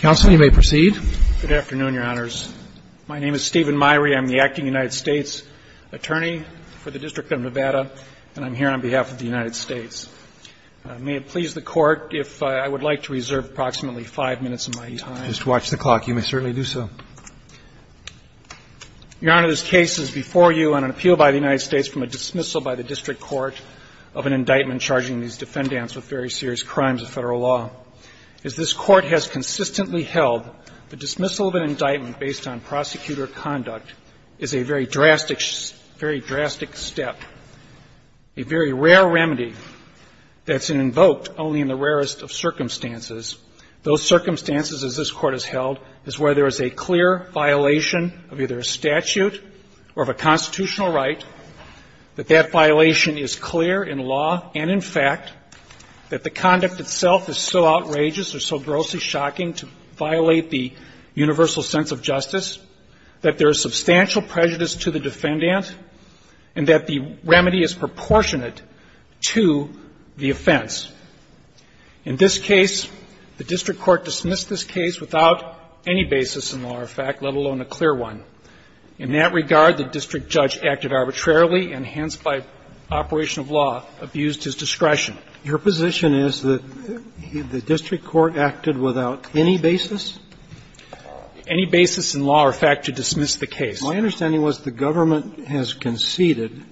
Good afternoon, Your Honors. My name is Stephen Meyrie. I'm the acting United States attorney for the District of Nevada, and I'm here on behalf of the United States. May it please the Court if I would like to reserve approximately five minutes of my time. Just watch the clock. You may certainly do so. Your Honor, this case is before you on an appeal by the United States from a dismissal by the district court of an indictment charging these defendants with very serious crimes of Federal law. As this Court has consistently held, the dismissal of an indictment based on prosecutor conduct is a very drastic, very drastic step, a very rare remedy that's invoked only in the rarest of circumstances. Those circumstances, as this Court has held, is where there is a clear violation of either a statute or of a constitutional right, that that violation is clear in law and in fact, that the conduct itself is so outrageous or so grossly shocking to violate the universal sense of justice, that there is substantial prejudice to the defendant, and that the remedy is proportionate to the offense. In this case, the district court dismissed this case without any basis in law or fact, let alone a clear one. In that regard, the district judge acted arbitrarily and hence, by operation of law, abused his discretion. Your position is that the district court acted without any basis? Any basis in law or fact to dismiss the case. My understanding was the government has conceded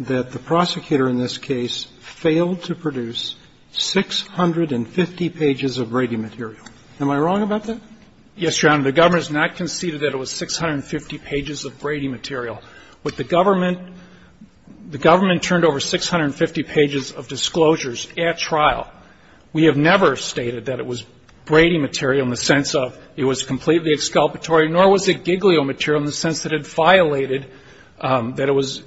that the prosecutor in this case failed to produce 650 pages of rating material. Am I wrong about that? Yes, Your Honor. The government has not conceded that it was 650 pages of rating material. With the government, the government turned over 650 pages of disclosures at trial. We have never stated that it was rating material in the sense of it was completely exculpatory, nor was it giglio material in the sense that it violated, that it was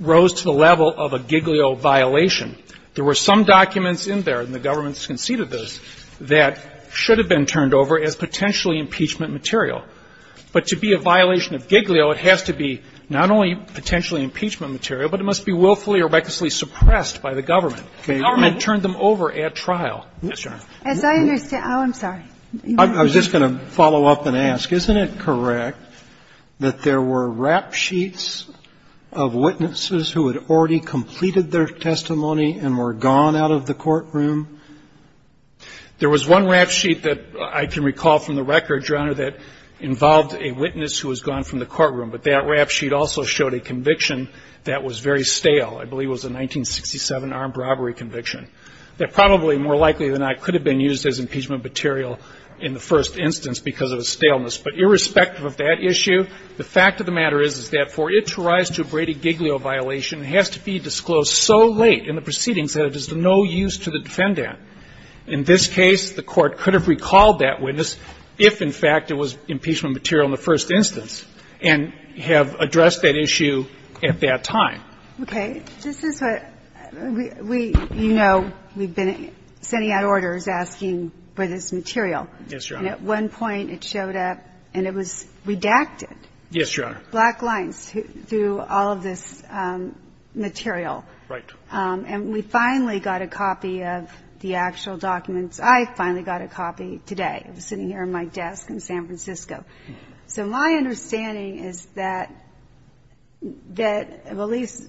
rose to the level of a giglio violation. There were some documents in there, and the government conceded this, that should have been turned over as potentially impeachment material. But to be a violation of giglio, it has to be not only potentially impeachment material, but it must be willfully or recklessly suppressed by the government. The government turned them over at trial. Yes, Your Honor. As I understand – oh, I'm sorry. I was just going to follow up and ask, isn't it correct that there were rap sheets of witnesses who had already completed their testimony and were gone out of the courtroom? There was one rap sheet that I can recall from the records, Your Honor, that involved a witness who was gone from the courtroom. But that rap sheet also showed a conviction that was very stale. I believe it was a 1967 armed robbery conviction, that probably more likely than not could have been used as impeachment material in the first instance because of its staleness. But irrespective of that issue, the fact of the matter is, is that for it to rise to a Brady-Giglio violation, it has to be disclosed so late in the proceedings that it is of no use to the defendant. In this case, the Court could have recalled that witness if, in fact, it was impeachment material in the first instance and have addressed that issue at that time. Okay. This is what we – you know we've been sending out orders asking for this material. Yes, Your Honor. And at one point it showed up and it was redacted. Yes, Your Honor. Black lines through all of this material. Right. And we finally got a copy of the actual documents. I finally got a copy today. It was sitting here at my desk in San Francisco. So my understanding is that, that at least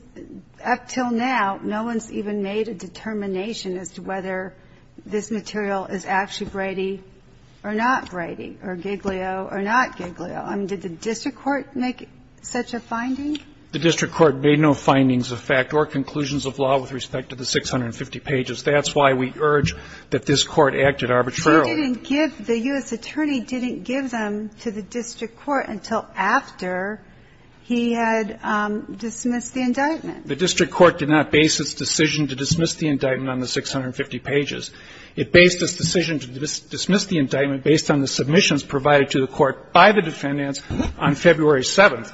up until now, no one's even made a determination as to whether this material is actually Brady or not Brady or Giglio or not Giglio. I mean, did the district court make such a finding? The district court made no findings of fact or conclusions of law with respect to the 650 pages. That's why we urge that this Court acted arbitrarily. She didn't give – the U.S. attorney didn't give them to the district court until after he had dismissed the indictment. The district court did not base its decision to dismiss the indictment on the 650 pages. It based its decision to dismiss the indictment based on the submissions provided to the court by the defendants on February 7th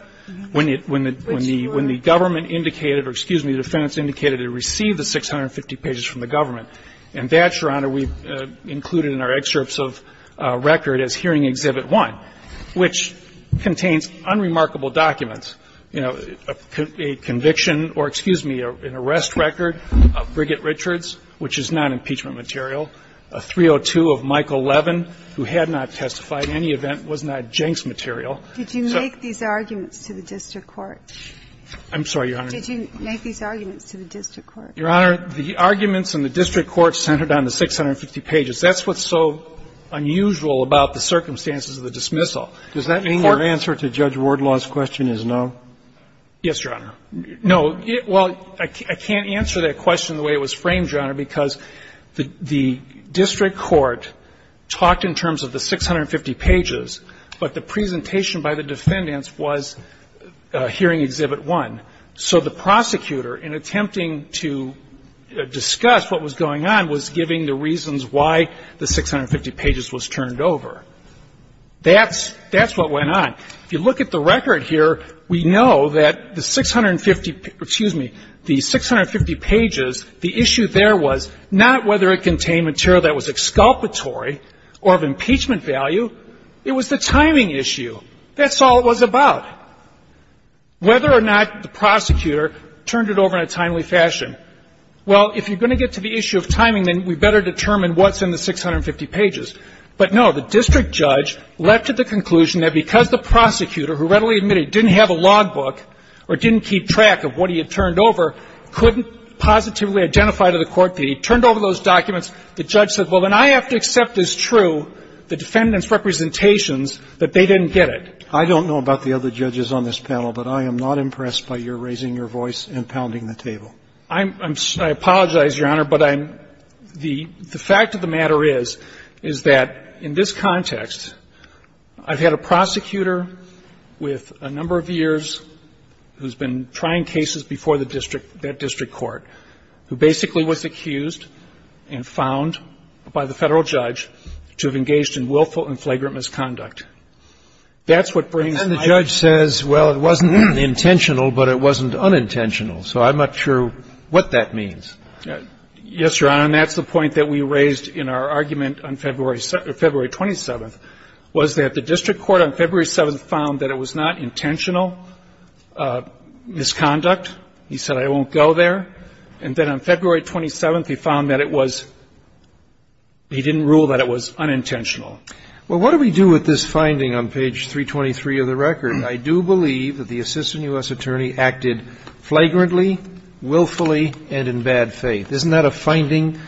when the government indicated – or excuse me, the defendants indicated it received the 650 pages from the government. And that, Your Honor, we've included in our excerpts of record as Hearing Exhibit 101, which contains unremarkable documents, you know, a conviction or, excuse me, an arrest record of Brigitte Richards, which is non-impeachment material, a 302 of Michael Levin, who had not testified in any event, was not Jenks material. Did you make these arguments to the district court? I'm sorry, Your Honor. Did you make these arguments to the district court? Your Honor, the arguments in the district court centered on the 650 pages. That's what's so unusual about the circumstances of the dismissal. Does that mean your answer to Judge Wardlaw's question is no? Yes, Your Honor. No. Well, I can't answer that question the way it was framed, Your Honor, because the district court talked in terms of the 650 pages, but the presentation by the defendants was Hearing Exhibit 1. So the prosecutor, in attempting to discuss what was going on, was giving the reasons why the 650 pages was turned over. That's what went on. If you look at the record here, we know that the 650, excuse me, the 650 pages, the issue there was not whether it contained material that was exculpatory or of impeachment value. It was the timing issue. That's all it was about. Whether or not the prosecutor turned it over in a timely fashion. Well, if you're going to get to the issue of timing, then we better determine what's in the 650 pages. But, no, the district judge left to the conclusion that because the prosecutor, who readily admitted didn't have a logbook or didn't keep track of what he had turned over, couldn't positively identify to the court that he turned over those documents, the judge said, well, then I have to accept as true the defendant's representations that they didn't get it. I don't know about the other judges on this panel, but I am not impressed by your raising your voice and pounding the table. I'm sorry. I apologize, Your Honor. But I'm, the fact of the matter is, is that in this context, I've had a prosecutor with a number of years who's been trying cases before the district, that district court, who basically was accused and found by the Federal judge to have engaged in willful and flagrant misconduct. That's what brings my ire. And then the judge says, well, it wasn't intentional, but it wasn't unintentional. So I'm not sure what that means. Yes, Your Honor, and that's the point that we raised in our argument on February 27th, was that the district court on February 7th found that it was not intentional misconduct. He said, I won't go there. And then on February 27th, he found that it was, he didn't rule that it was unintentional. Well, what do we do with this finding on page 323 of the record? I do believe that the assistant U.S. attorney acted flagrantly, willfully, and in bad faith. Isn't that a finding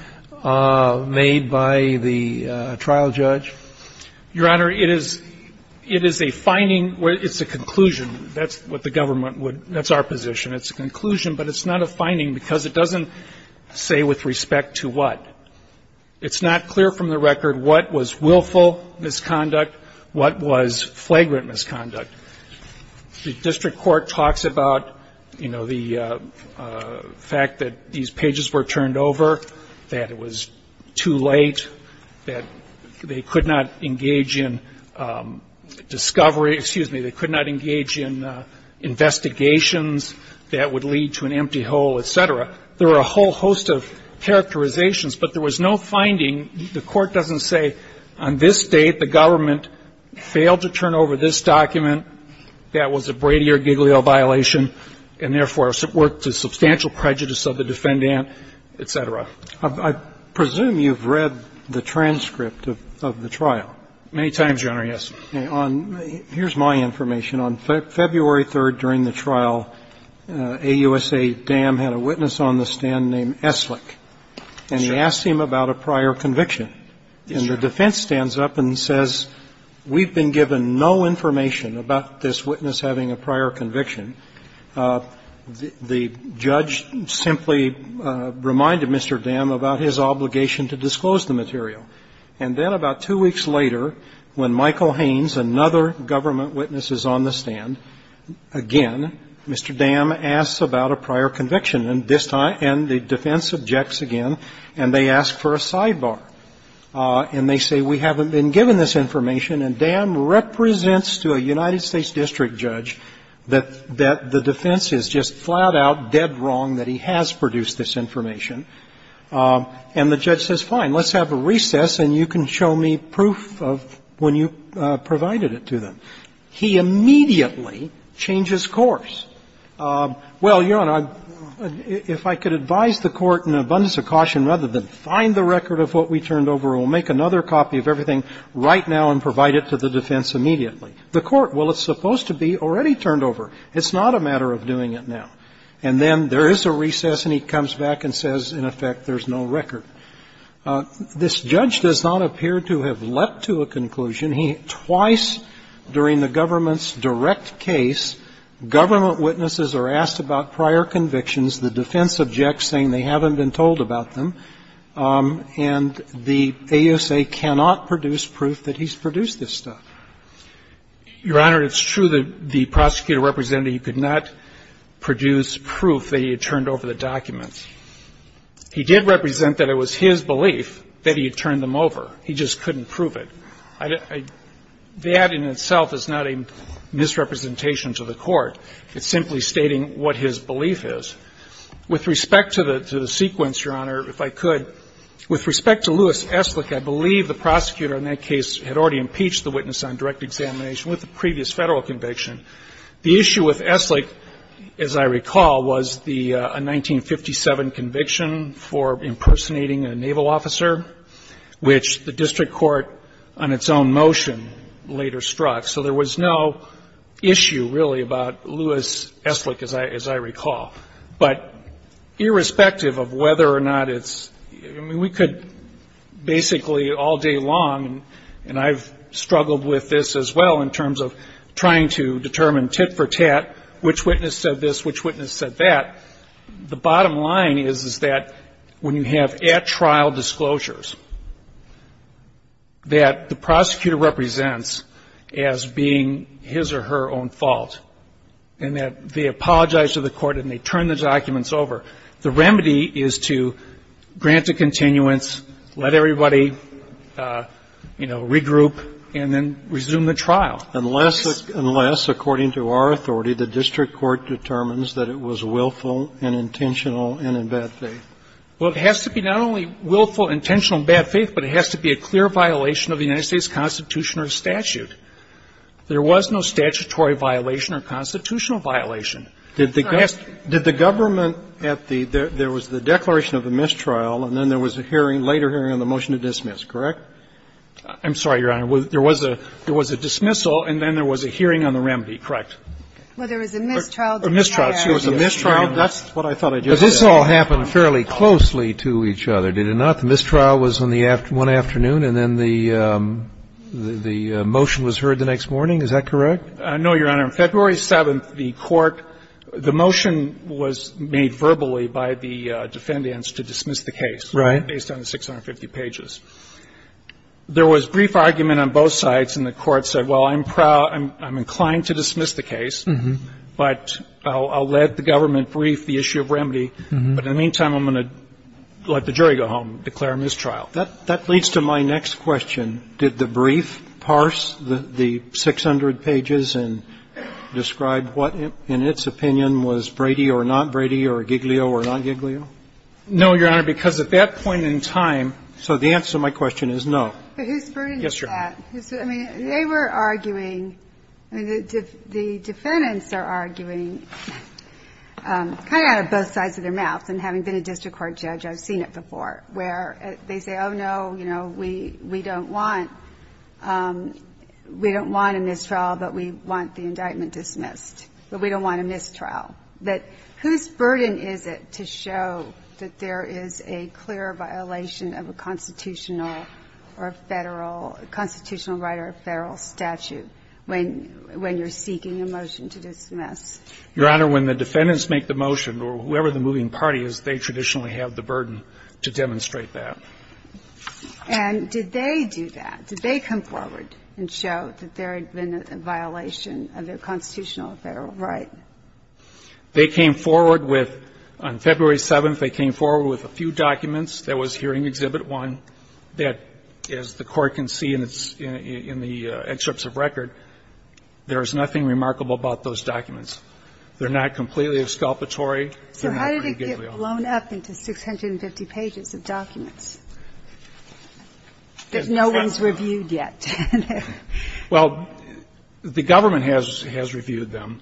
made by the trial judge? Your Honor, it is, it is a finding. It's a conclusion. That's what the government would, that's our position. It's a conclusion, but it's not a finding because it doesn't say with respect to what. It's not clear from the record what was willful misconduct, what was flagrant misconduct. The district court talks about, you know, the fact that these pages were turned over, that it was too late, that they could not engage in discovery, excuse me, they could not engage in investigations that would lead to an empty hole, et cetera. There are a whole host of characterizations, but there was no finding, the court doesn't say on this date the government failed to turn over this document that was a Brady or Giglio violation and therefore worked to substantial prejudice of the defendant, et cetera. I presume you've read the transcript of the trial. Many times, Your Honor, yes. Here's my information. On February 3rd during the trial, AUSA Dam had a witness on the stand named Eslick, and he asked him about a prior conviction. And the defense stands up and says, we've been given no information about this witness having a prior conviction. The judge simply reminded Mr. Dam about his obligation to disclose the material. And then about two weeks later, when Michael Haynes, another government witness, is on the stand again, Mr. Dam asks about a prior conviction, and this time the defense objects again, and they ask for a sidebar. And they say, we haven't been given this information, and Dam represents to a United States district judge that the defense is just flat-out dead wrong that he has produced this information. And the judge says, fine. Let's have a recess and you can show me proof of when you provided it to them. He immediately changes course. Well, Your Honor, if I could advise the Court in an abundance of caution, rather than find the record of what we turned over, we'll make another copy of everything right now and provide it to the defense immediately. The Court, well, it's supposed to be already turned over. It's not a matter of doing it now. And then there is a recess and he comes back and says, in effect, there's no record. This judge does not appear to have leapt to a conclusion. Twice during the government's direct case, government witnesses are asked about prior convictions. The defense objects, saying they haven't been told about them. And the AUSA cannot produce proof that he's produced this stuff. Your Honor, it's true that the prosecutor represented he could not produce proof that he had turned over the documents. He did represent that it was his belief that he had turned them over. He just couldn't prove it. That in itself is not a misrepresentation to the Court. It's simply stating what his belief is. With respect to the sequence, Your Honor, if I could, with respect to Lewis Eslick, I believe the prosecutor in that case had already impeached the witness on direct examination with the previous Federal conviction. The issue with Eslick, as I recall, was the 1957 conviction for impersonating a naval officer, which the district court, on its own motion, later struck. So there was no issue, really, about Lewis Eslick, as I recall. But irrespective of whether or not it's we could basically all day long, and I've struggled with this as well in terms of trying to determine tit-for-tat which witness said this, which witness said that. The bottom line is that when you have at-trial disclosures that the prosecutor represents as being his or her own fault, and that they apologize to the Court and they turn the documents over, the remedy is to grant a continuance, let everybody, you know, regroup, and then resume the trial. Unless, according to our authority, the district court determines that it was willful and intentional and in bad faith. Well, it has to be not only willful, intentional, and bad faith, but it has to be a clear violation of the United States Constitution or statute. There was no statutory violation or constitutional violation. Did the government at the – there was the declaration of a mistrial, and then there was a hearing, later hearing, on the motion to dismiss, correct? I'm sorry, Your Honor. There was a dismissal, and then there was a hearing on the remedy, correct? Well, there was a mistrial. A mistrial. There was a mistrial. That's what I thought I just said. But this all happened fairly closely to each other, did it not? The mistrial was on the one afternoon, and then the motion was heard the next morning. Is that correct? No, Your Honor. On February 7th, the court – the motion was made verbally by the defendants to dismiss the case. Right. Based on the 650 pages. There was brief argument on both sides, and the court said, well, I'm proud – I'm inclined to dismiss the case, but I'll let the government brief the issue of remedy. But in the meantime, I'm going to let the jury go home, declare a mistrial. That leads to my next question. Did the brief parse the 600 pages and describe what, in its opinion, was Brady or not Brady or Giglio or not Giglio? No, Your Honor, because at that point in time – So the answer to my question is no. But who's burdened with that? Yes, Your Honor. I mean, they were arguing – I mean, the defendants are arguing kind of out of both sides of their mouths, and having been a district court judge, I've seen it before, where they say, oh, no, you know, we – we don't want – we don't want a mistrial, but we want the indictment dismissed. But we don't want a mistrial. But whose burden is it to show that there is a clear violation of a constitutional or a federal – a constitutional right or a federal statute when – when you're seeking a motion to dismiss? Your Honor, when the defendants make the motion, or whoever the moving party is, they traditionally have the burden to demonstrate that. And did they do that? Did they come forward and show that there had been a violation of their constitutional or federal right? They came forward with – on February 7th, they came forward with a few documents. There was hearing exhibit one that, as the Court can see in its – in the excerpts of record, there is nothing remarkable about those documents. They're not completely exculpatory. So how did it get blown up into 650 pages of documents? There's no one's reviewed yet. Well, the government has – has reviewed them.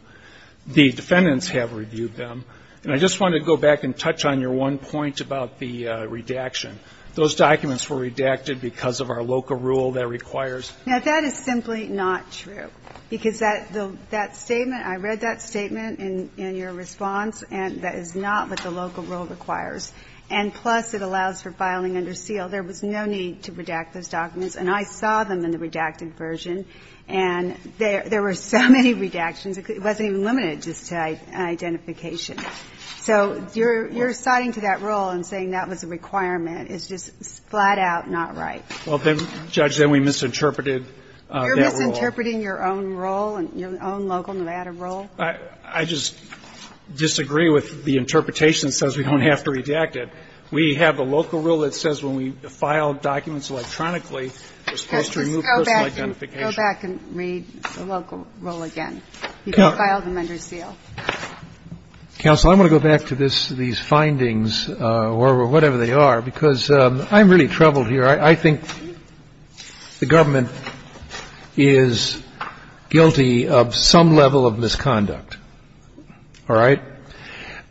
The defendants have reviewed them. And I just want to go back and touch on your one point about the redaction. Those documents were redacted because of our LOCA rule that requires. Now, that is simply not true, because that – that statement – I read that statement in your response, and that is not what the LOCA rule requires. And plus, it allows for filing under seal. There was no need to redact those documents. And I saw them in the redacted version. And there were so many redactions, it wasn't even limited just to identification. So you're – you're citing to that rule and saying that was a requirement is just flat-out not right. Well, then, Judge, then we misinterpreted that rule. You're misinterpreting your own rule, your own local Nevada rule? I just disagree with the interpretation that says we don't have to redact it. We have a LOCA rule that says when we file documents electronically, we're supposed to remove personal identification. Go back and read the LOCA rule again. You can file them under seal. Counsel, I'm going to go back to this – these findings, or whatever they are, because I'm really troubled here. I think the government is guilty of some level of misconduct. All right?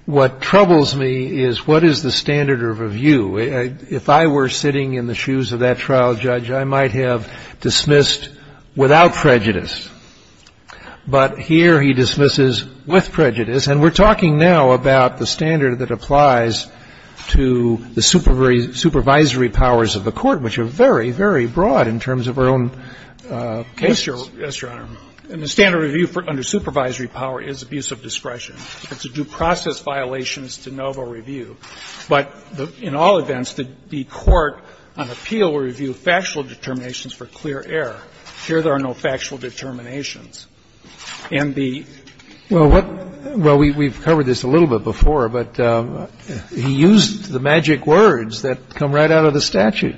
What troubles me is what is the standard of review? If I were sitting in the shoes of that trial judge, I might have dismissed without prejudice. But here he dismisses with prejudice. And we're talking now about the standard that applies to the supervisory powers of the court, which are very, very broad in terms of our own case. Yes, Your Honor. And the standard of review under supervisory power is abuse of discretion. It's a due process violation. It's de novo review. But in all events, the court on appeal will review factual determinations for clear error. Here there are no factual determinations. And the – Well, what – well, we've covered this a little bit before, but he used the magic words that come right out of the statute.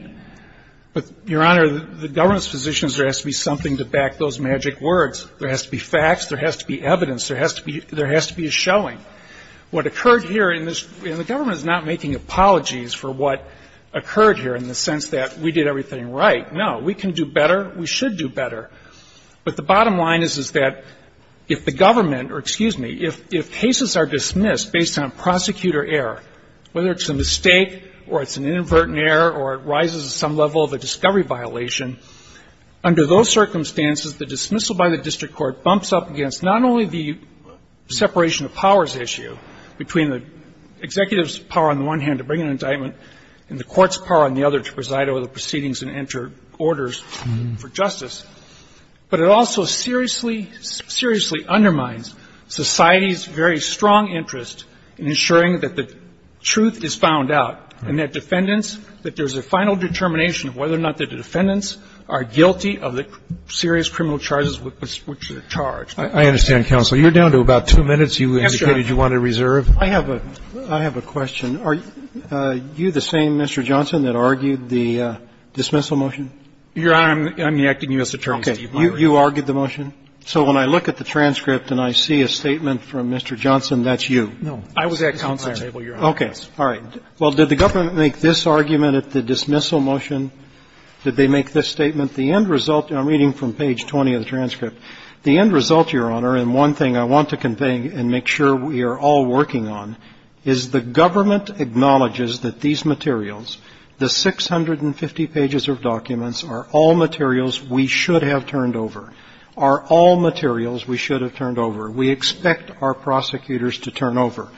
But, Your Honor, the government's position is there has to be something to back those magic words. There has to be facts. There has to be evidence. There has to be a showing. What occurred here in this – and the government is not making apologies for what occurred here in the sense that we did everything right. No. We can do better. We should do better. But the bottom line is, is that if the government – or excuse me – if cases are dismissed based on prosecutor error, whether it's a mistake or it's an inadvertent error or it rises to some level of a discovery violation, under those circumstances the dismissal by the district court bumps up against not only the separation of powers issue between the executive's power on the one hand to bring an indictment and the court's power on the other to preside over the proceedings and enter orders for justice, but it also seriously, seriously undermines society's very strong interest in ensuring that the truth is found out and that defendants – that there's a final determination of whether or not the defendants are guilty of the serious criminal charges which they're charged. I understand, counsel. You're down to about two minutes. Yes, Your Honor. You indicated you wanted to reserve. I have a question. Are you the same, Mr. Johnson, that argued the dismissal motion? Your Honor, I'm enacting you as attorney. Okay. You argued the motion? So when I look at the transcript and I see a statement from Mr. Johnson, that's you? I was at counsel's table, Your Honor. Okay. All right. Well, did the government make this argument at the dismissal motion? Did they make this statement? The end result – I'm reading from page 20 of the transcript. The end result, Your Honor, and one thing I want to convey and make sure we are all aware of, is that the defendants are all materials we should have turned over, are all materials we should have turned over. We expect our prosecutors to turn over.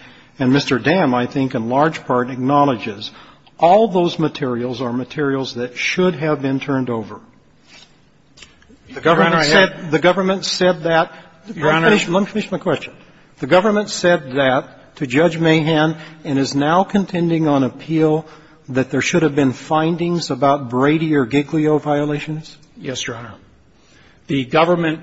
And Mr. Dam, I think, in large part, acknowledges all those materials are materials that should have been turned over. Your Honor, I had – The government said that – let me finish my question. The government said that to Judge Mahan and is now contending on appeal that there should be no violations? Yes, Your Honor. The government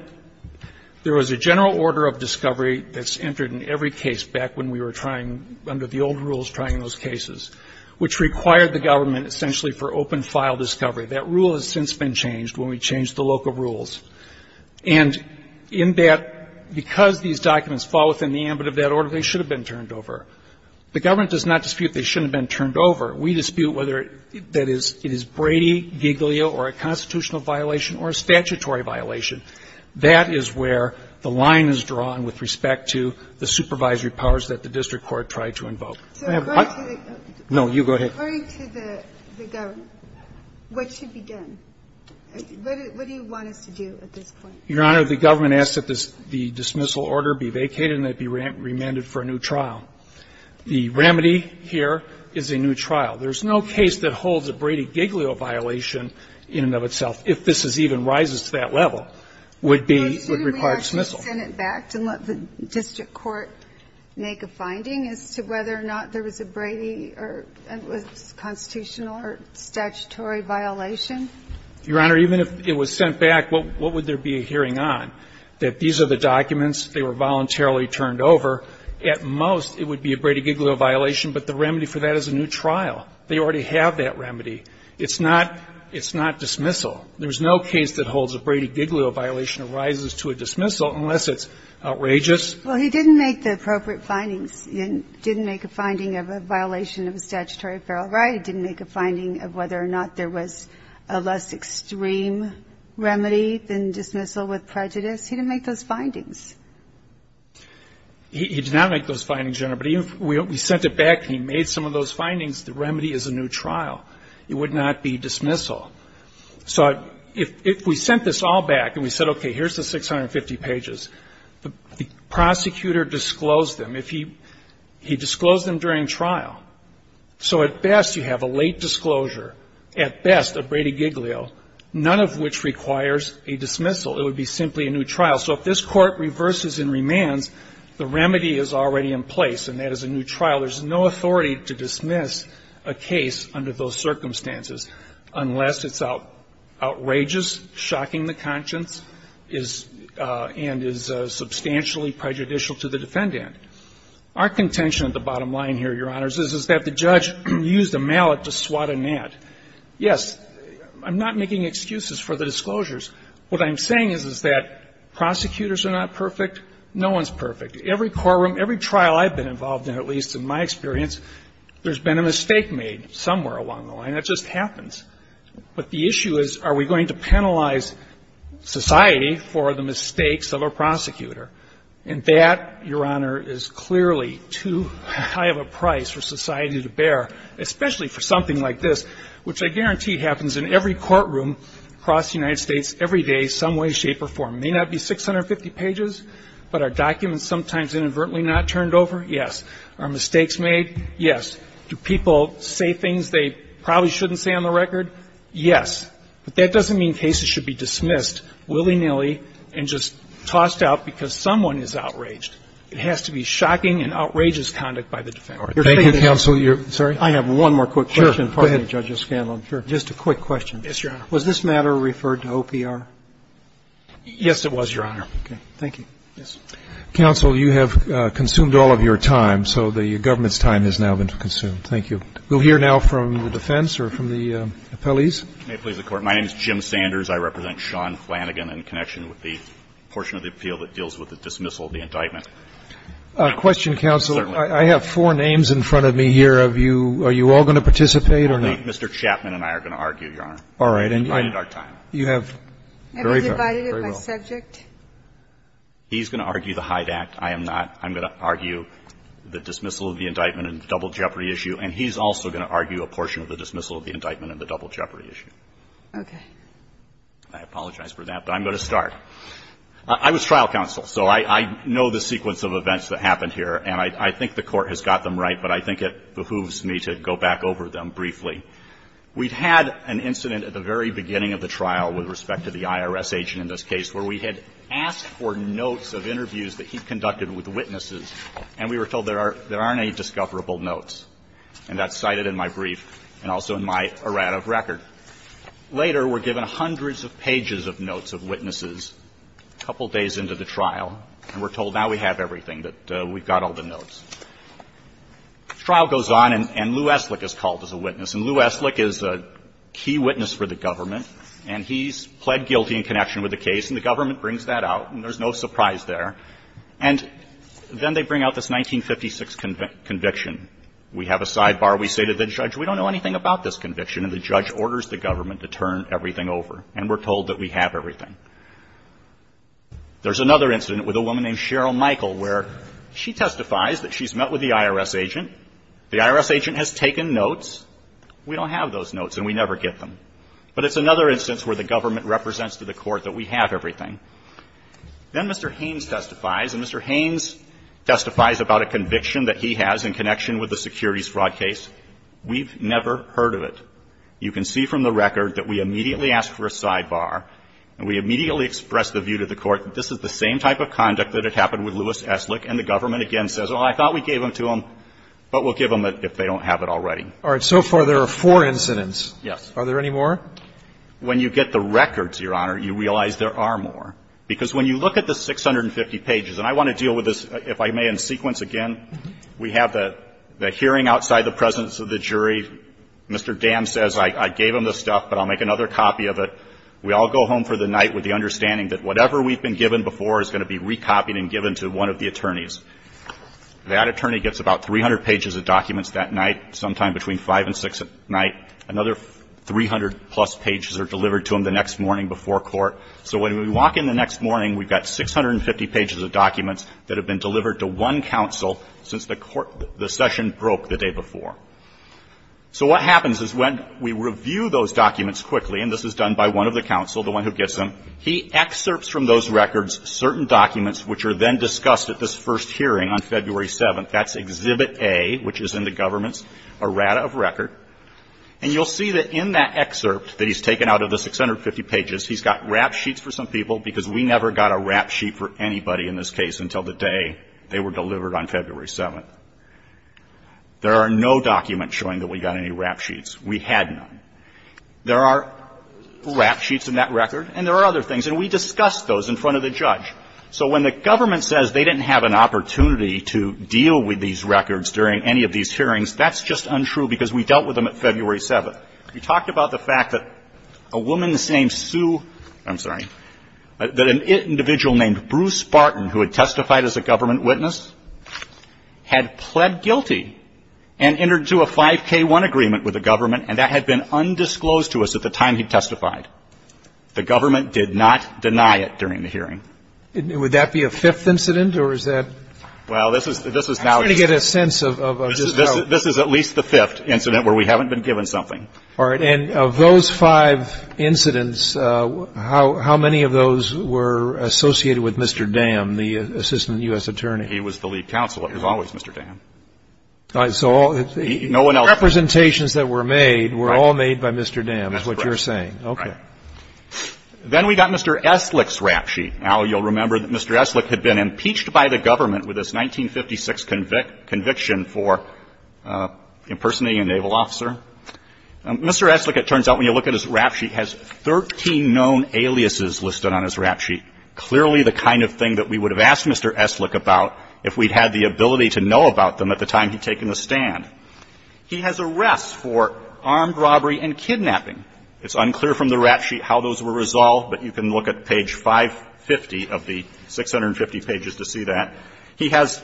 – there was a general order of discovery that's entered in every case back when we were trying, under the old rules, trying those cases, which required the government essentially for open file discovery. That rule has since been changed when we changed the local rules. And in that, because these documents fall within the ambit of that order, they should have been turned over. The government does not dispute they shouldn't have been turned over. We dispute whether it is Brady, Giglio, or a constitutional violation or a statutory violation. That is where the line is drawn with respect to the supervisory powers that the district court tried to invoke. So according to the – No, you go ahead. According to the government, what should be done? What do you want us to do at this point? Your Honor, the government asked that the dismissal order be vacated and that it be remanded for a new trial. The remedy here is a new trial. There's no case that holds a Brady-Giglio violation in and of itself, if this even rises to that level, would be – would require dismissal. Well, shouldn't we actually send it back to let the district court make a finding as to whether or not there was a Brady or a constitutional or statutory violation? Your Honor, even if it was sent back, what would there be a hearing on? That these are the documents. They were voluntarily turned over. At most, it would be a Brady-Giglio violation, but the remedy for that is a new trial. They already have that remedy. It's not – it's not dismissal. There's no case that holds a Brady-Giglio violation arises to a dismissal unless it's outrageous. Well, he didn't make the appropriate findings. He didn't make a finding of a violation of a statutory apparel right. He didn't make a finding of whether or not there was a less extreme remedy than dismissal with prejudice. He didn't make those findings. He did not make those findings, Your Honor. But even if we sent it back and he made some of those findings, the remedy is a new trial. It would not be dismissal. So if we sent this all back and we said, okay, here's the 650 pages, the prosecutor disclosed them. If he – he disclosed them during trial. So at best, you have a late disclosure. At best, a Brady-Giglio, none of which requires a dismissal. It would be simply a new trial. So if this Court reverses and remands, the remedy is already in place, and that is a new trial. There's no authority to dismiss a case under those circumstances unless it's outrageous, shocking the conscience, is – and is substantially prejudicial to the defendant. Our contention at the bottom line here, Your Honors, is that the judge used a mallet to swat a gnat. Yes, I'm not making excuses for the disclosures. What I'm saying is, is that prosecutors are not perfect. No one's perfect. Every courtroom, every trial I've been involved in, at least in my experience, there's been a mistake made somewhere along the line. It just happens. But the issue is, are we going to penalize society for the mistakes of a prosecutor? And that, Your Honor, is clearly too high of a price for society to bear, especially for something like this, which I guarantee happens in every courtroom across the United States every day, some way, shape, or form. It may not be 650 pages, but are documents sometimes inadvertently not turned over? Yes. Are mistakes made? Yes. Do people say things they probably shouldn't say on the record? But that doesn't mean cases should be dismissed willy-nilly and just tossed out because someone is outraged. It has to be shocking and outrageous conduct by the defendant. Thank you, counsel. I have one more quick question. Sure. Go ahead. Just a quick question. Yes, Your Honor. Was this matter referred to OPR? Yes, it was, Your Honor. Okay. Thank you. Counsel, you have consumed all of your time, so the government's time has now been consumed. Thank you. We'll hear now from the defense or from the appellees. May it please the Court. My name is Jim Sanders. I represent Sean Flanagan in connection with the portion of the appeal that deals with the dismissal of the indictment. Question, counsel. Certainly. I have four names in front of me here. Are you all going to participate or not? Mr. Chapman and I are going to argue, Your Honor. All right. And, yeah. You have very fair, very well. Have you divided it by subject? He's going to argue the Hyde Act. I am not. I'm going to argue the dismissal of the indictment and the double jeopardy issue. And he's also going to argue a portion of the dismissal of the indictment and the double jeopardy issue. Okay. I apologize for that, but I'm going to start. I was trial counsel, so I know the sequence of events that happened here, and I think the Court has got them right, but I think it behooves me to go back over them briefly. We've had an incident at the very beginning of the trial with respect to the IRS agent in this case where we had asked for notes of interviews that he conducted with witnesses, and we were told there aren't any discoverable notes. And that's cited in my brief and also in my errata of record. Later, we're given hundreds of pages of notes of witnesses a couple days into the trial, and we're told now we have everything, that we've got all the notes. The trial goes on, and Lou Estlick is called as a witness. And Lou Estlick is a key witness for the government, and he's pled guilty in connection with the case, and the government brings that out, and there's no surprise there. And then they bring out this 1956 conviction. We have a sidebar. We say to the judge, we don't know anything about this conviction. And the judge orders the government to turn everything over, and we're told that we have everything. There's another incident with a woman named Cheryl Michael where she testifies that she's met with the IRS agent. The IRS agent has taken notes. We don't have those notes, and we never get them. But it's another instance where the government represents to the court that we have everything. Then Mr. Haynes testifies, and Mr. Haynes testifies about a conviction that he has in connection with the securities fraud case. We've never heard of it. You can see from the record that we immediately ask for a sidebar, and we immediately express the view to the court that this is the same type of conduct that had happened with Lewis Eslick. And the government again says, oh, I thought we gave them to them, but we'll give them it if they don't have it already. All right. So far, there are four incidents. Yes. Are there any more? When you get the records, Your Honor, you realize there are more. Because when you look at the 650 pages, and I want to deal with this, if I may, in sequence again, we have the hearing outside the presence of the jury. Mr. Dam says, I gave him this stuff, but I'll make another copy of it. We all go home for the night with the understanding that whatever we've been given before is going to be recopied and given to one of the attorneys. That attorney gets about 300 pages of documents that night, sometime between 5 and 6 at night. Another 300-plus pages are delivered to him the next morning before court. So when we walk in the next morning, we've got 650 pages of documents that have been delivered to one counsel since the session broke the day before. So what happens is when we review those documents quickly, and this is done by one of the counsel, the one who gets them, he excerpts from those records certain documents which are then discussed at this first hearing on February 7th. That's Exhibit A, which is in the government's errata of record. And you'll see that in that excerpt that he's taken out of the 650 pages, he's got rap sheets for some people, because we never got a rap sheet for anybody in this case until the day they were delivered on February 7th. There are no documents showing that we got any rap sheets. We had none. There are rap sheets in that record, and there are other things. And we discussed those in front of the judge. So when the government says they didn't have an opportunity to deal with these records during any of these hearings, that's just untrue because we dealt with them at February 7th. We talked about the fact that a woman named Sue – I'm sorry – that an individual named Bruce Barton, who had testified as a government witness, had pled guilty and entered into a 5K1 agreement with the government, and that had been undisclosed to us at the time he testified. The government did not deny it during the hearing. Would that be a fifth incident, or is that – Well, this is now – I'm trying to get a sense of – This is at least the fifth incident where we haven't been given something. All right. And of those five incidents, how many of those were associated with Mr. Dam, the assistant U.S. attorney? He was the lead counsel, as always, Mr. Dam. All right. So all – No one else – The representations that were made were all made by Mr. Dam, is what you're saying. That's correct. Okay. Then we got Mr. Eslick's rap sheet. Now, you'll remember that Mr. Eslick had been impeached by the government with his 1956 conviction for impersonating a naval officer. Mr. Eslick, it turns out, when you look at his rap sheet, has 13 known aliases listed on his rap sheet, clearly the kind of thing that we would have asked Mr. Eslick about if we'd had the ability to know about them at the time he'd taken the stand. He has arrests for armed robbery and kidnapping. It's unclear from the rap sheet how those were resolved, but you can look at page 550 of the – 650 pages to see that. He has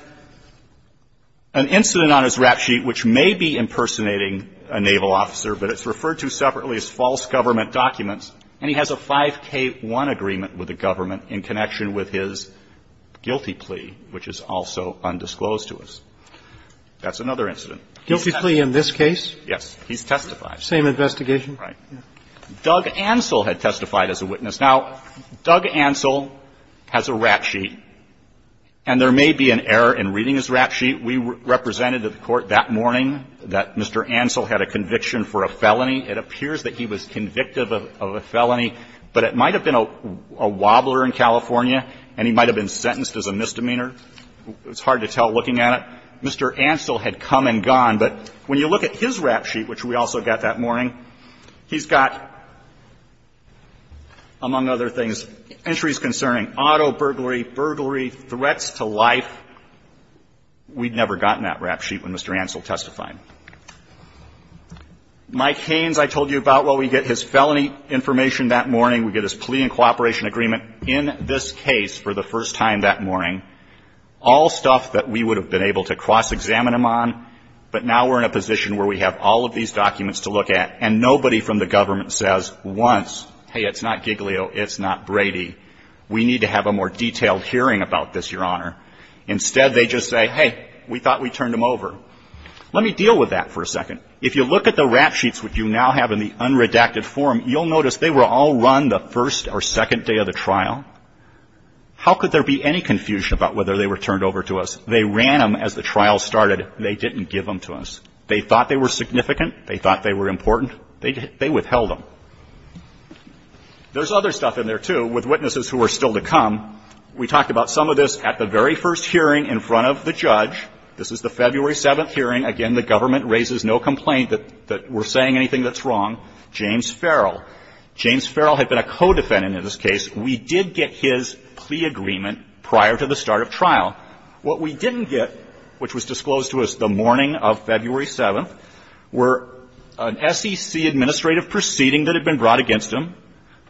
an incident on his rap sheet which may be impersonating a naval officer, but it's referred to separately as false government documents, and he has a 5K1 agreement with the government in connection with his guilty plea, which is also undisclosed to us. That's another incident. Guilty plea in this case? Yes. He's testified. Same investigation? Right. Doug Ansell had testified as a witness. Now, Doug Ansell has a rap sheet, and there may be an error in reading his rap sheet. We represented at the Court that morning that Mr. Ansell had a conviction for a felony. It appears that he was convictive of a felony, but it might have been a wobbler in California, and he might have been sentenced as a misdemeanor. It's hard to tell looking at it. Mr. Ansell had come and gone, but when you look at his rap sheet, which we also got that morning, he's got, among other things, entries concerning auto burglary, burglary, threats to life. We'd never gotten that rap sheet when Mr. Ansell testified. Mike Haynes, I told you about, well, we get his felony information that morning. We get his plea and cooperation agreement in this case for the first time that morning. All stuff that we would have been able to cross-examine him on, but now we're in a position where we have all of these documents to look at, and nobody from the government says once, hey, it's not Giglio, it's not Brady. We need to have a more detailed hearing about this, Your Honor. Instead, they just say, hey, we thought we turned him over. Let me deal with that for a second. If you look at the rap sheets which you now have in the unredacted form, you'll notice they were all run the first or second day of the trial. How could there be any confusion about whether they were turned over to us? They ran them as the trial started. They didn't give them to us. They thought they were significant. They thought they were important. They withheld them. There's other stuff in there, too, with witnesses who are still to come. We talked about some of this at the very first hearing in front of the judge. This is the February 7th hearing. Again, the government raises no complaint that we're saying anything that's wrong. James Farrell. James Farrell had been a co-defendant in this case. We did get his plea agreement prior to the start of trial. What we didn't get, which was disclosed to us the morning of February 7th, were an SEC administrative proceeding that had been brought against him,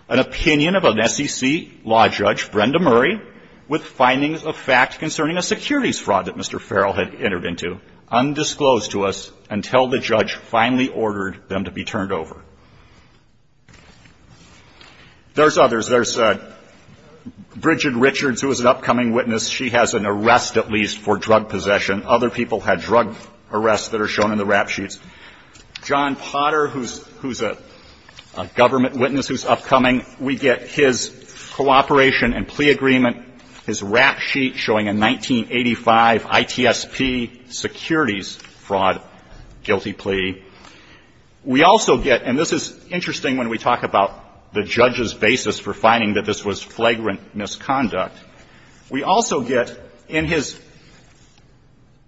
an opinion of an SEC law judge, Brenda Murray, with findings of fact concerning a securities fraud that Mr. Farrell had entered into, undisclosed to us until the judge finally ordered them to be turned over. There's others. There's Bridget Richards, who is an upcoming witness. She has an arrest, at least, for drug possession. Other people had drug arrests that are shown in the rap sheets. John Potter, who's a government witness who's upcoming. We get his cooperation and plea agreement. His rap sheet showing a 1985 ITSP securities fraud guilty plea. We also get, and this is interesting when we talk about the judge's basis for finding that this was flagrant misconduct. We also get in his,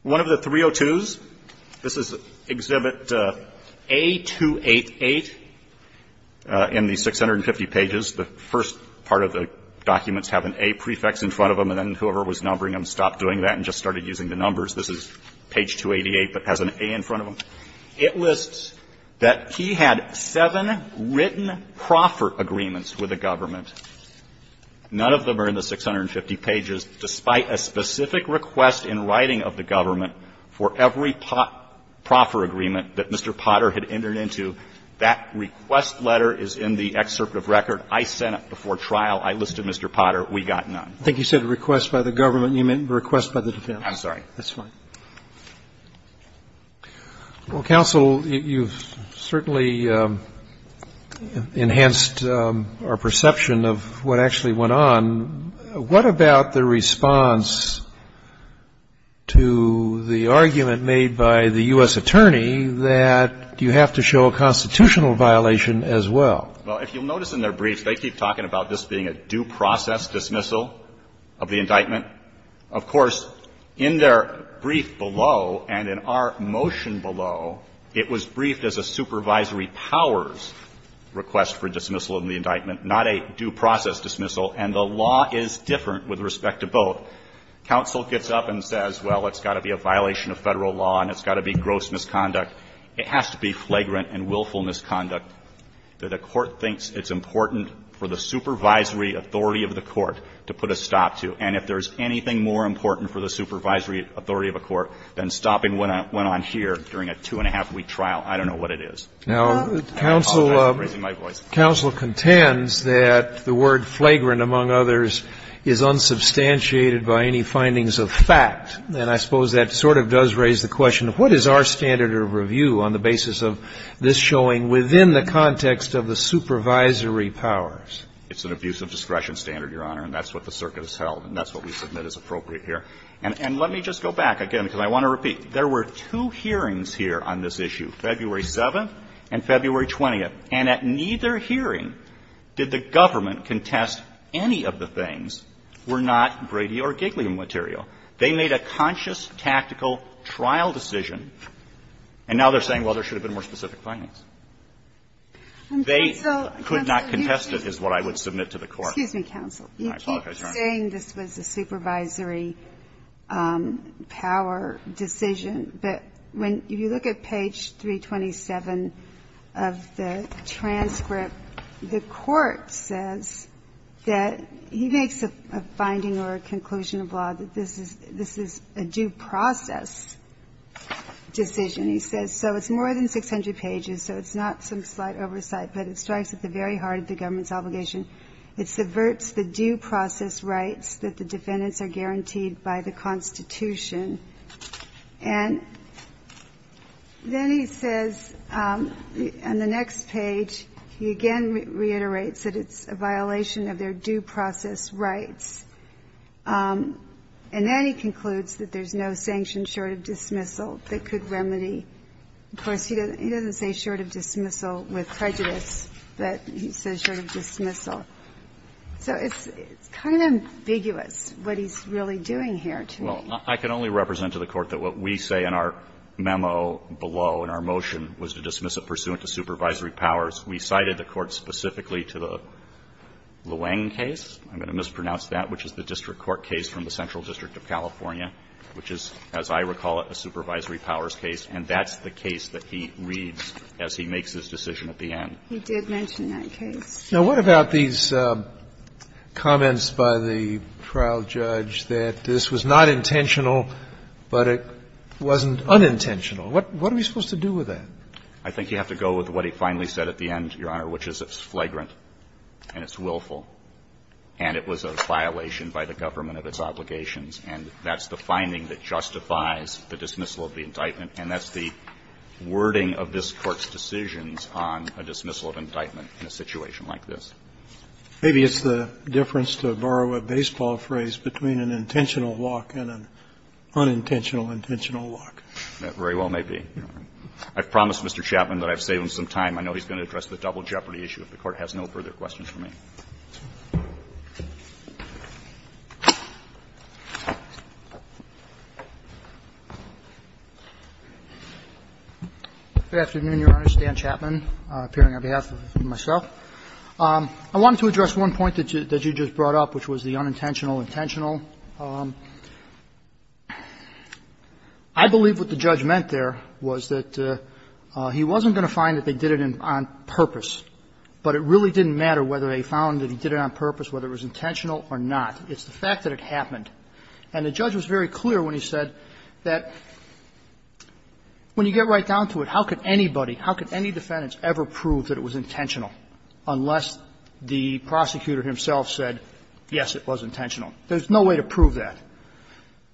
one of the 302s, this is Exhibit A-288 in the 650 pages. The first part of the documents have an A prefix in front of them, and then whoever was numbering them stopped doing that and just started using the numbers. This is page 288, but has an A in front of them. It lists that he had seven written proffer agreements with the government. None of them are in the 650 pages, despite a specific request in writing of the government for every proffer agreement that Mr. Potter had entered into. That request letter is in the excerpt of record. I sent it before trial. I listed Mr. Potter. We got none. Roberts. I think you said request by the government. You meant request by the defense. Pincus. I'm sorry. That's fine. Roberts. Well, counsel, you've certainly enhanced our perception of what actually went on. What about the response to the argument made by the U.S. attorney that you have to show a constitutional violation as well? Well, if you'll notice in their briefs, they keep talking about this being a due process dismissal of the indictment. Of course, in their brief below and in our motion below, it was briefed as a supervisory powers request for dismissal of the indictment, not a due process dismissal. And the law is different with respect to both. Counsel gets up and says, well, it's got to be a violation of Federal law and it's got to be gross misconduct. It has to be flagrant and willful misconduct that a court thinks it's important for the supervisory authority of the court to put a stop to. And if there's anything more important for the supervisory authority of a court than stopping what went on here during a two-and-a-half-week trial, I don't know what it is. I apologize for raising my voice. Now, counsel contends that the word flagrant, among others, is unsubstantiated by any findings of fact. And I suppose that sort of does raise the question of what is our standard of review on the basis of this showing within the context of the supervisory powers? It's an abuse of discretion standard, Your Honor, and that's what the circuit has held and that's what we submit as appropriate here. And let me just go back again because I want to repeat. There were two hearings here on this issue, February 7th and February 20th. And at neither hearing did the government contest any of the things were not Brady or Gigliam material. They made a conscious, tactical trial decision. And now they're saying, well, there should have been more specific findings. They could not contest it is what I would submit to the court. Ginsburg. Excuse me, counsel. You keep saying this was a supervisory power decision, but when you look at page 327 of the transcript, the court says that he makes a finding or a conclusion of law that this is a due process decision. He says, so it's more than 600 pages, so it's not some slight oversight, but it strikes at the very heart of the government's obligation. It subverts the due process rights that the defendants are guaranteed by the Constitution. And then he says on the next page, he again reiterates that it's a violation of their due process rights. And then he concludes that there's no sanction short of dismissal that could remedy. Of course, he doesn't say short of dismissal with prejudice, but he says short of dismissal. So it's kind of ambiguous what he's really doing here to me. Well, I can only represent to the court that what we say in our memo below in our motion was to dismiss it pursuant to supervisory powers. We cited the court specifically to the Luang case. I'm going to mispronounce that, which is the district court case from the Central District of California, which is, as I recall it, a supervisory powers case. And that's the case that he reads as he makes his decision at the end. He did mention that case. Now, what about these comments by the trial judge that this was not intentional, but it wasn't unintentional? What are we supposed to do with that? I think you have to go with what he finally said at the end, Your Honor, which is it's flagrant and it's willful, and it was a violation by the government of its obligations. And that's the finding that justifies the dismissal of the indictment. And that's the wording of this Court's decisions on a dismissal of indictment in a situation like this. Maybe it's the difference, to borrow a baseball phrase, between an intentional walk and an unintentional intentional walk. Very well may be. I've promised Mr. Chapman that I've saved him some time. I know he's going to address the double jeopardy issue. If the Court has no further questions for me. Good afternoon, Your Honor. Stan Chapman, appearing on behalf of myself. I wanted to address one point that you just brought up, which was the unintentional intentional. I believe what the judge meant there was that he wasn't going to find that they did it on purpose, but it really didn't matter whether they found that he did it on purpose, whether it was intentional or not. It's the fact that it happened. And the judge was very clear when he said that when you get right down to it, how could anybody, how could any defendant ever prove that it was intentional unless the prosecutor himself said, yes, it was intentional. There's no way to prove that.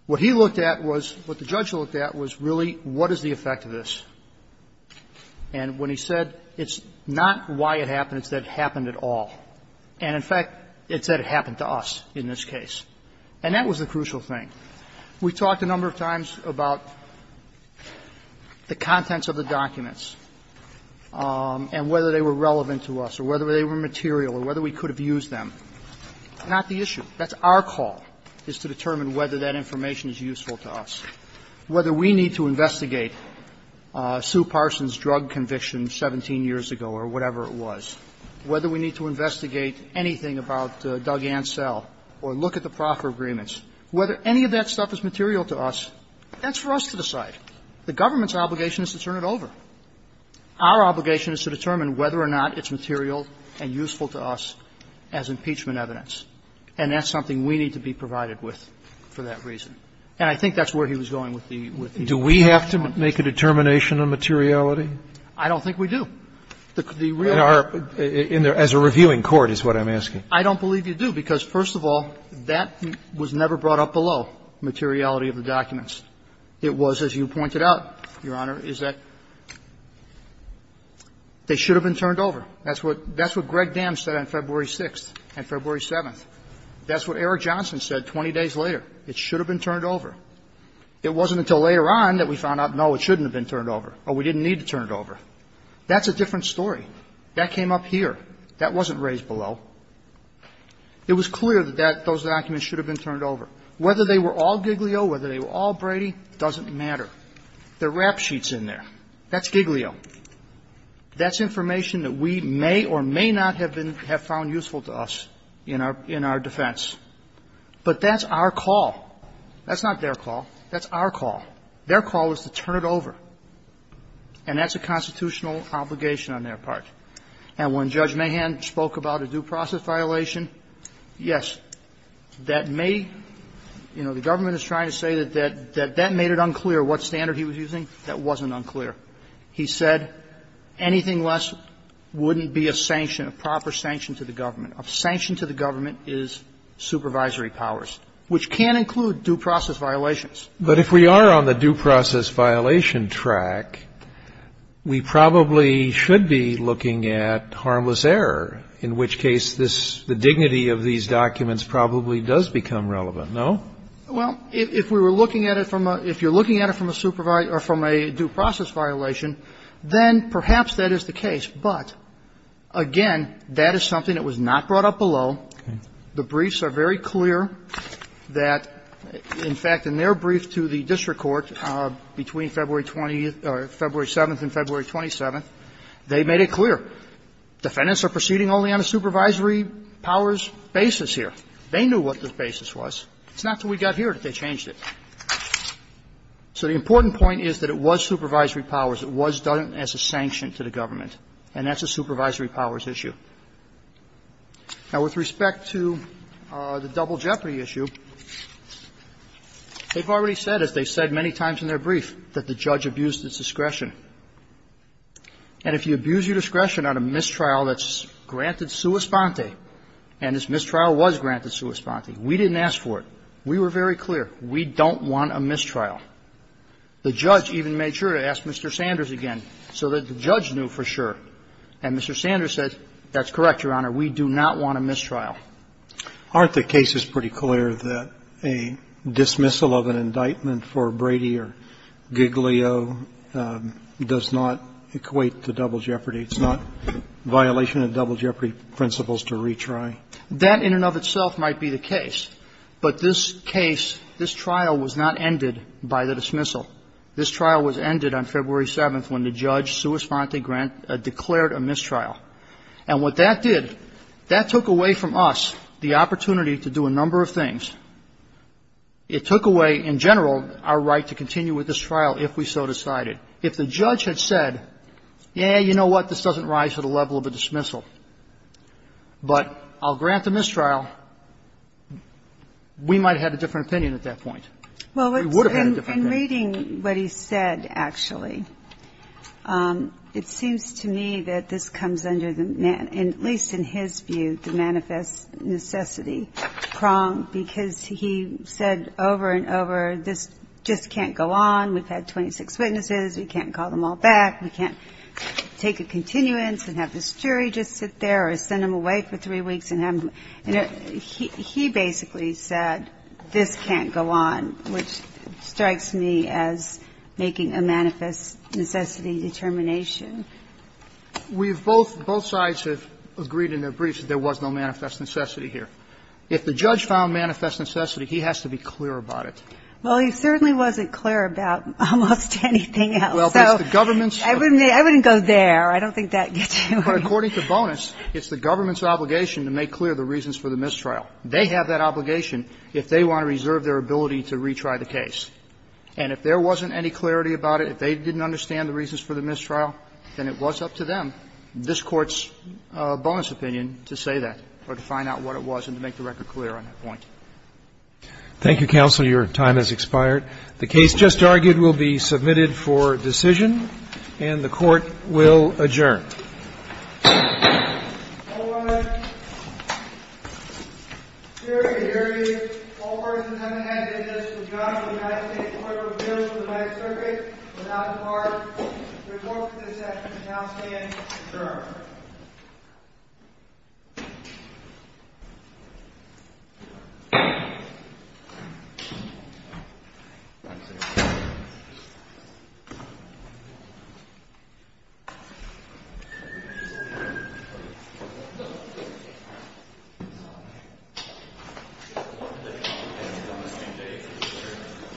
What he looked at was, what the judge looked at was really what is the effect of this. And when he said it's not why it happened, it's that it happened at all. And in fact, it's that it happened to us in this case. And that was the crucial thing. We talked a number of times about the contents of the documents and whether they were relevant to us or whether they were material or whether we could have used Not the issue. That's our call. Our call is to determine whether that information is useful to us, whether we need to investigate Sue Parson's drug conviction 17 years ago or whatever it was, whether we need to investigate anything about Doug Ansell or look at the proffer agreements, whether any of that stuff is material to us. That's for us to decide. The government's obligation is to turn it over. Our obligation is to determine whether or not it's material and useful to us as impeachment evidence. And that's something we need to be provided with for that reason. And I think that's where he was going with the question. Do we have to make a determination on materiality? I don't think we do. The real question is. As a reviewing court is what I'm asking. I don't believe you do, because, first of all, that was never brought up below, materiality of the documents. It was, as you pointed out, Your Honor, is that they should have been turned over. That's what Greg Dam said on February 6th and February 7th. That's what Eric Johnson said 20 days later. It should have been turned over. It wasn't until later on that we found out, no, it shouldn't have been turned over, or we didn't need to turn it over. That's a different story. That came up here. That wasn't raised below. It was clear that those documents should have been turned over. Whether they were all Giglio, whether they were all Brady, doesn't matter. The rap sheet's in there. That's Giglio. That's information that we may or may not have found useful to us in our defense. But that's our call. That's not their call. That's our call. Their call is to turn it over. And that's a constitutional obligation on their part. And when Judge Mahan spoke about a due process violation, yes, that may, you know, the government is trying to say that that made it unclear what standard he was using. That wasn't unclear. He said anything less wouldn't be a sanction, a proper sanction to the government. A sanction to the government is supervisory powers, which can include due process violations. But if we are on the due process violation track, we probably should be looking at harmless error, in which case the dignity of these documents probably does become relevant, no? Well, if we were looking at it from a – if you're looking at it from a due process violation, then perhaps that is the case. But, again, that is something that was not brought up below. The briefs are very clear that, in fact, in their brief to the district court between February 7th and February 27th, they made it clear. Defendants are proceeding only on a supervisory powers basis here. They knew what the basis was. It's not until we got here that they changed it. So the important point is that it was supervisory powers. It was done as a sanction to the government. And that's a supervisory powers issue. Now, with respect to the double jeopardy issue, they've already said, as they've said many times in their brief, that the judge abused its discretion. And if you abuse your discretion on a mistrial that's granted sua sponte, and this mistrial was granted sua sponte. We didn't ask for it. We were very clear. We don't want a mistrial. The judge even made sure to ask Mr. Sanders again so that the judge knew for sure. And Mr. Sanders said, that's correct, Your Honor, we do not want a mistrial. Aren't the cases pretty clear that a dismissal of an indictment for Brady or Giglio does not equate to double jeopardy? It's not violation of double jeopardy principles to retry? That in and of itself might be the case. But this case, this trial was not ended by the dismissal. This trial was ended on February 7th when the judge sua sponte declared a mistrial. And what that did, that took away from us the opportunity to do a number of things. It took away, in general, our right to continue with this trial if we so decided. If the judge had said, yeah, you know what, this doesn't rise to the level of a I'll grant the mistrial, we might have had a different opinion at that point. We would have had a different opinion. In reading what he said, actually, it seems to me that this comes under the, at least in his view, the manifest necessity prong. Because he said over and over, this just can't go on. We've had 26 witnesses. We can't call them all back. We can't take a continuance and have this jury just sit there or send them away for He basically said, this can't go on. Which strikes me as making a manifest necessity determination. We've both, both sides have agreed in their briefs that there was no manifest necessity here. If the judge found manifest necessity, he has to be clear about it. Well, he certainly wasn't clear about almost anything else. I wouldn't go there. I don't think that gets you anywhere. According to bonus, it's the government's obligation to make clear the reasons for the mistrial. They have that obligation if they want to reserve their ability to retry the case. And if there wasn't any clarity about it, if they didn't understand the reasons for the mistrial, then it was up to them, this Court's bonus opinion, to say that or to find out what it was and to make the record clear on that point. Thank you, counsel. Your time has expired. The case just argued will be submitted for decision, and the Court will adjourn. All right. Siri, I hear you. All parties present, I'm going to hand this to the judge for the magistrate's order of appeals for the right circuit without the card. The court for this action shall now stand adjourned. Thank you.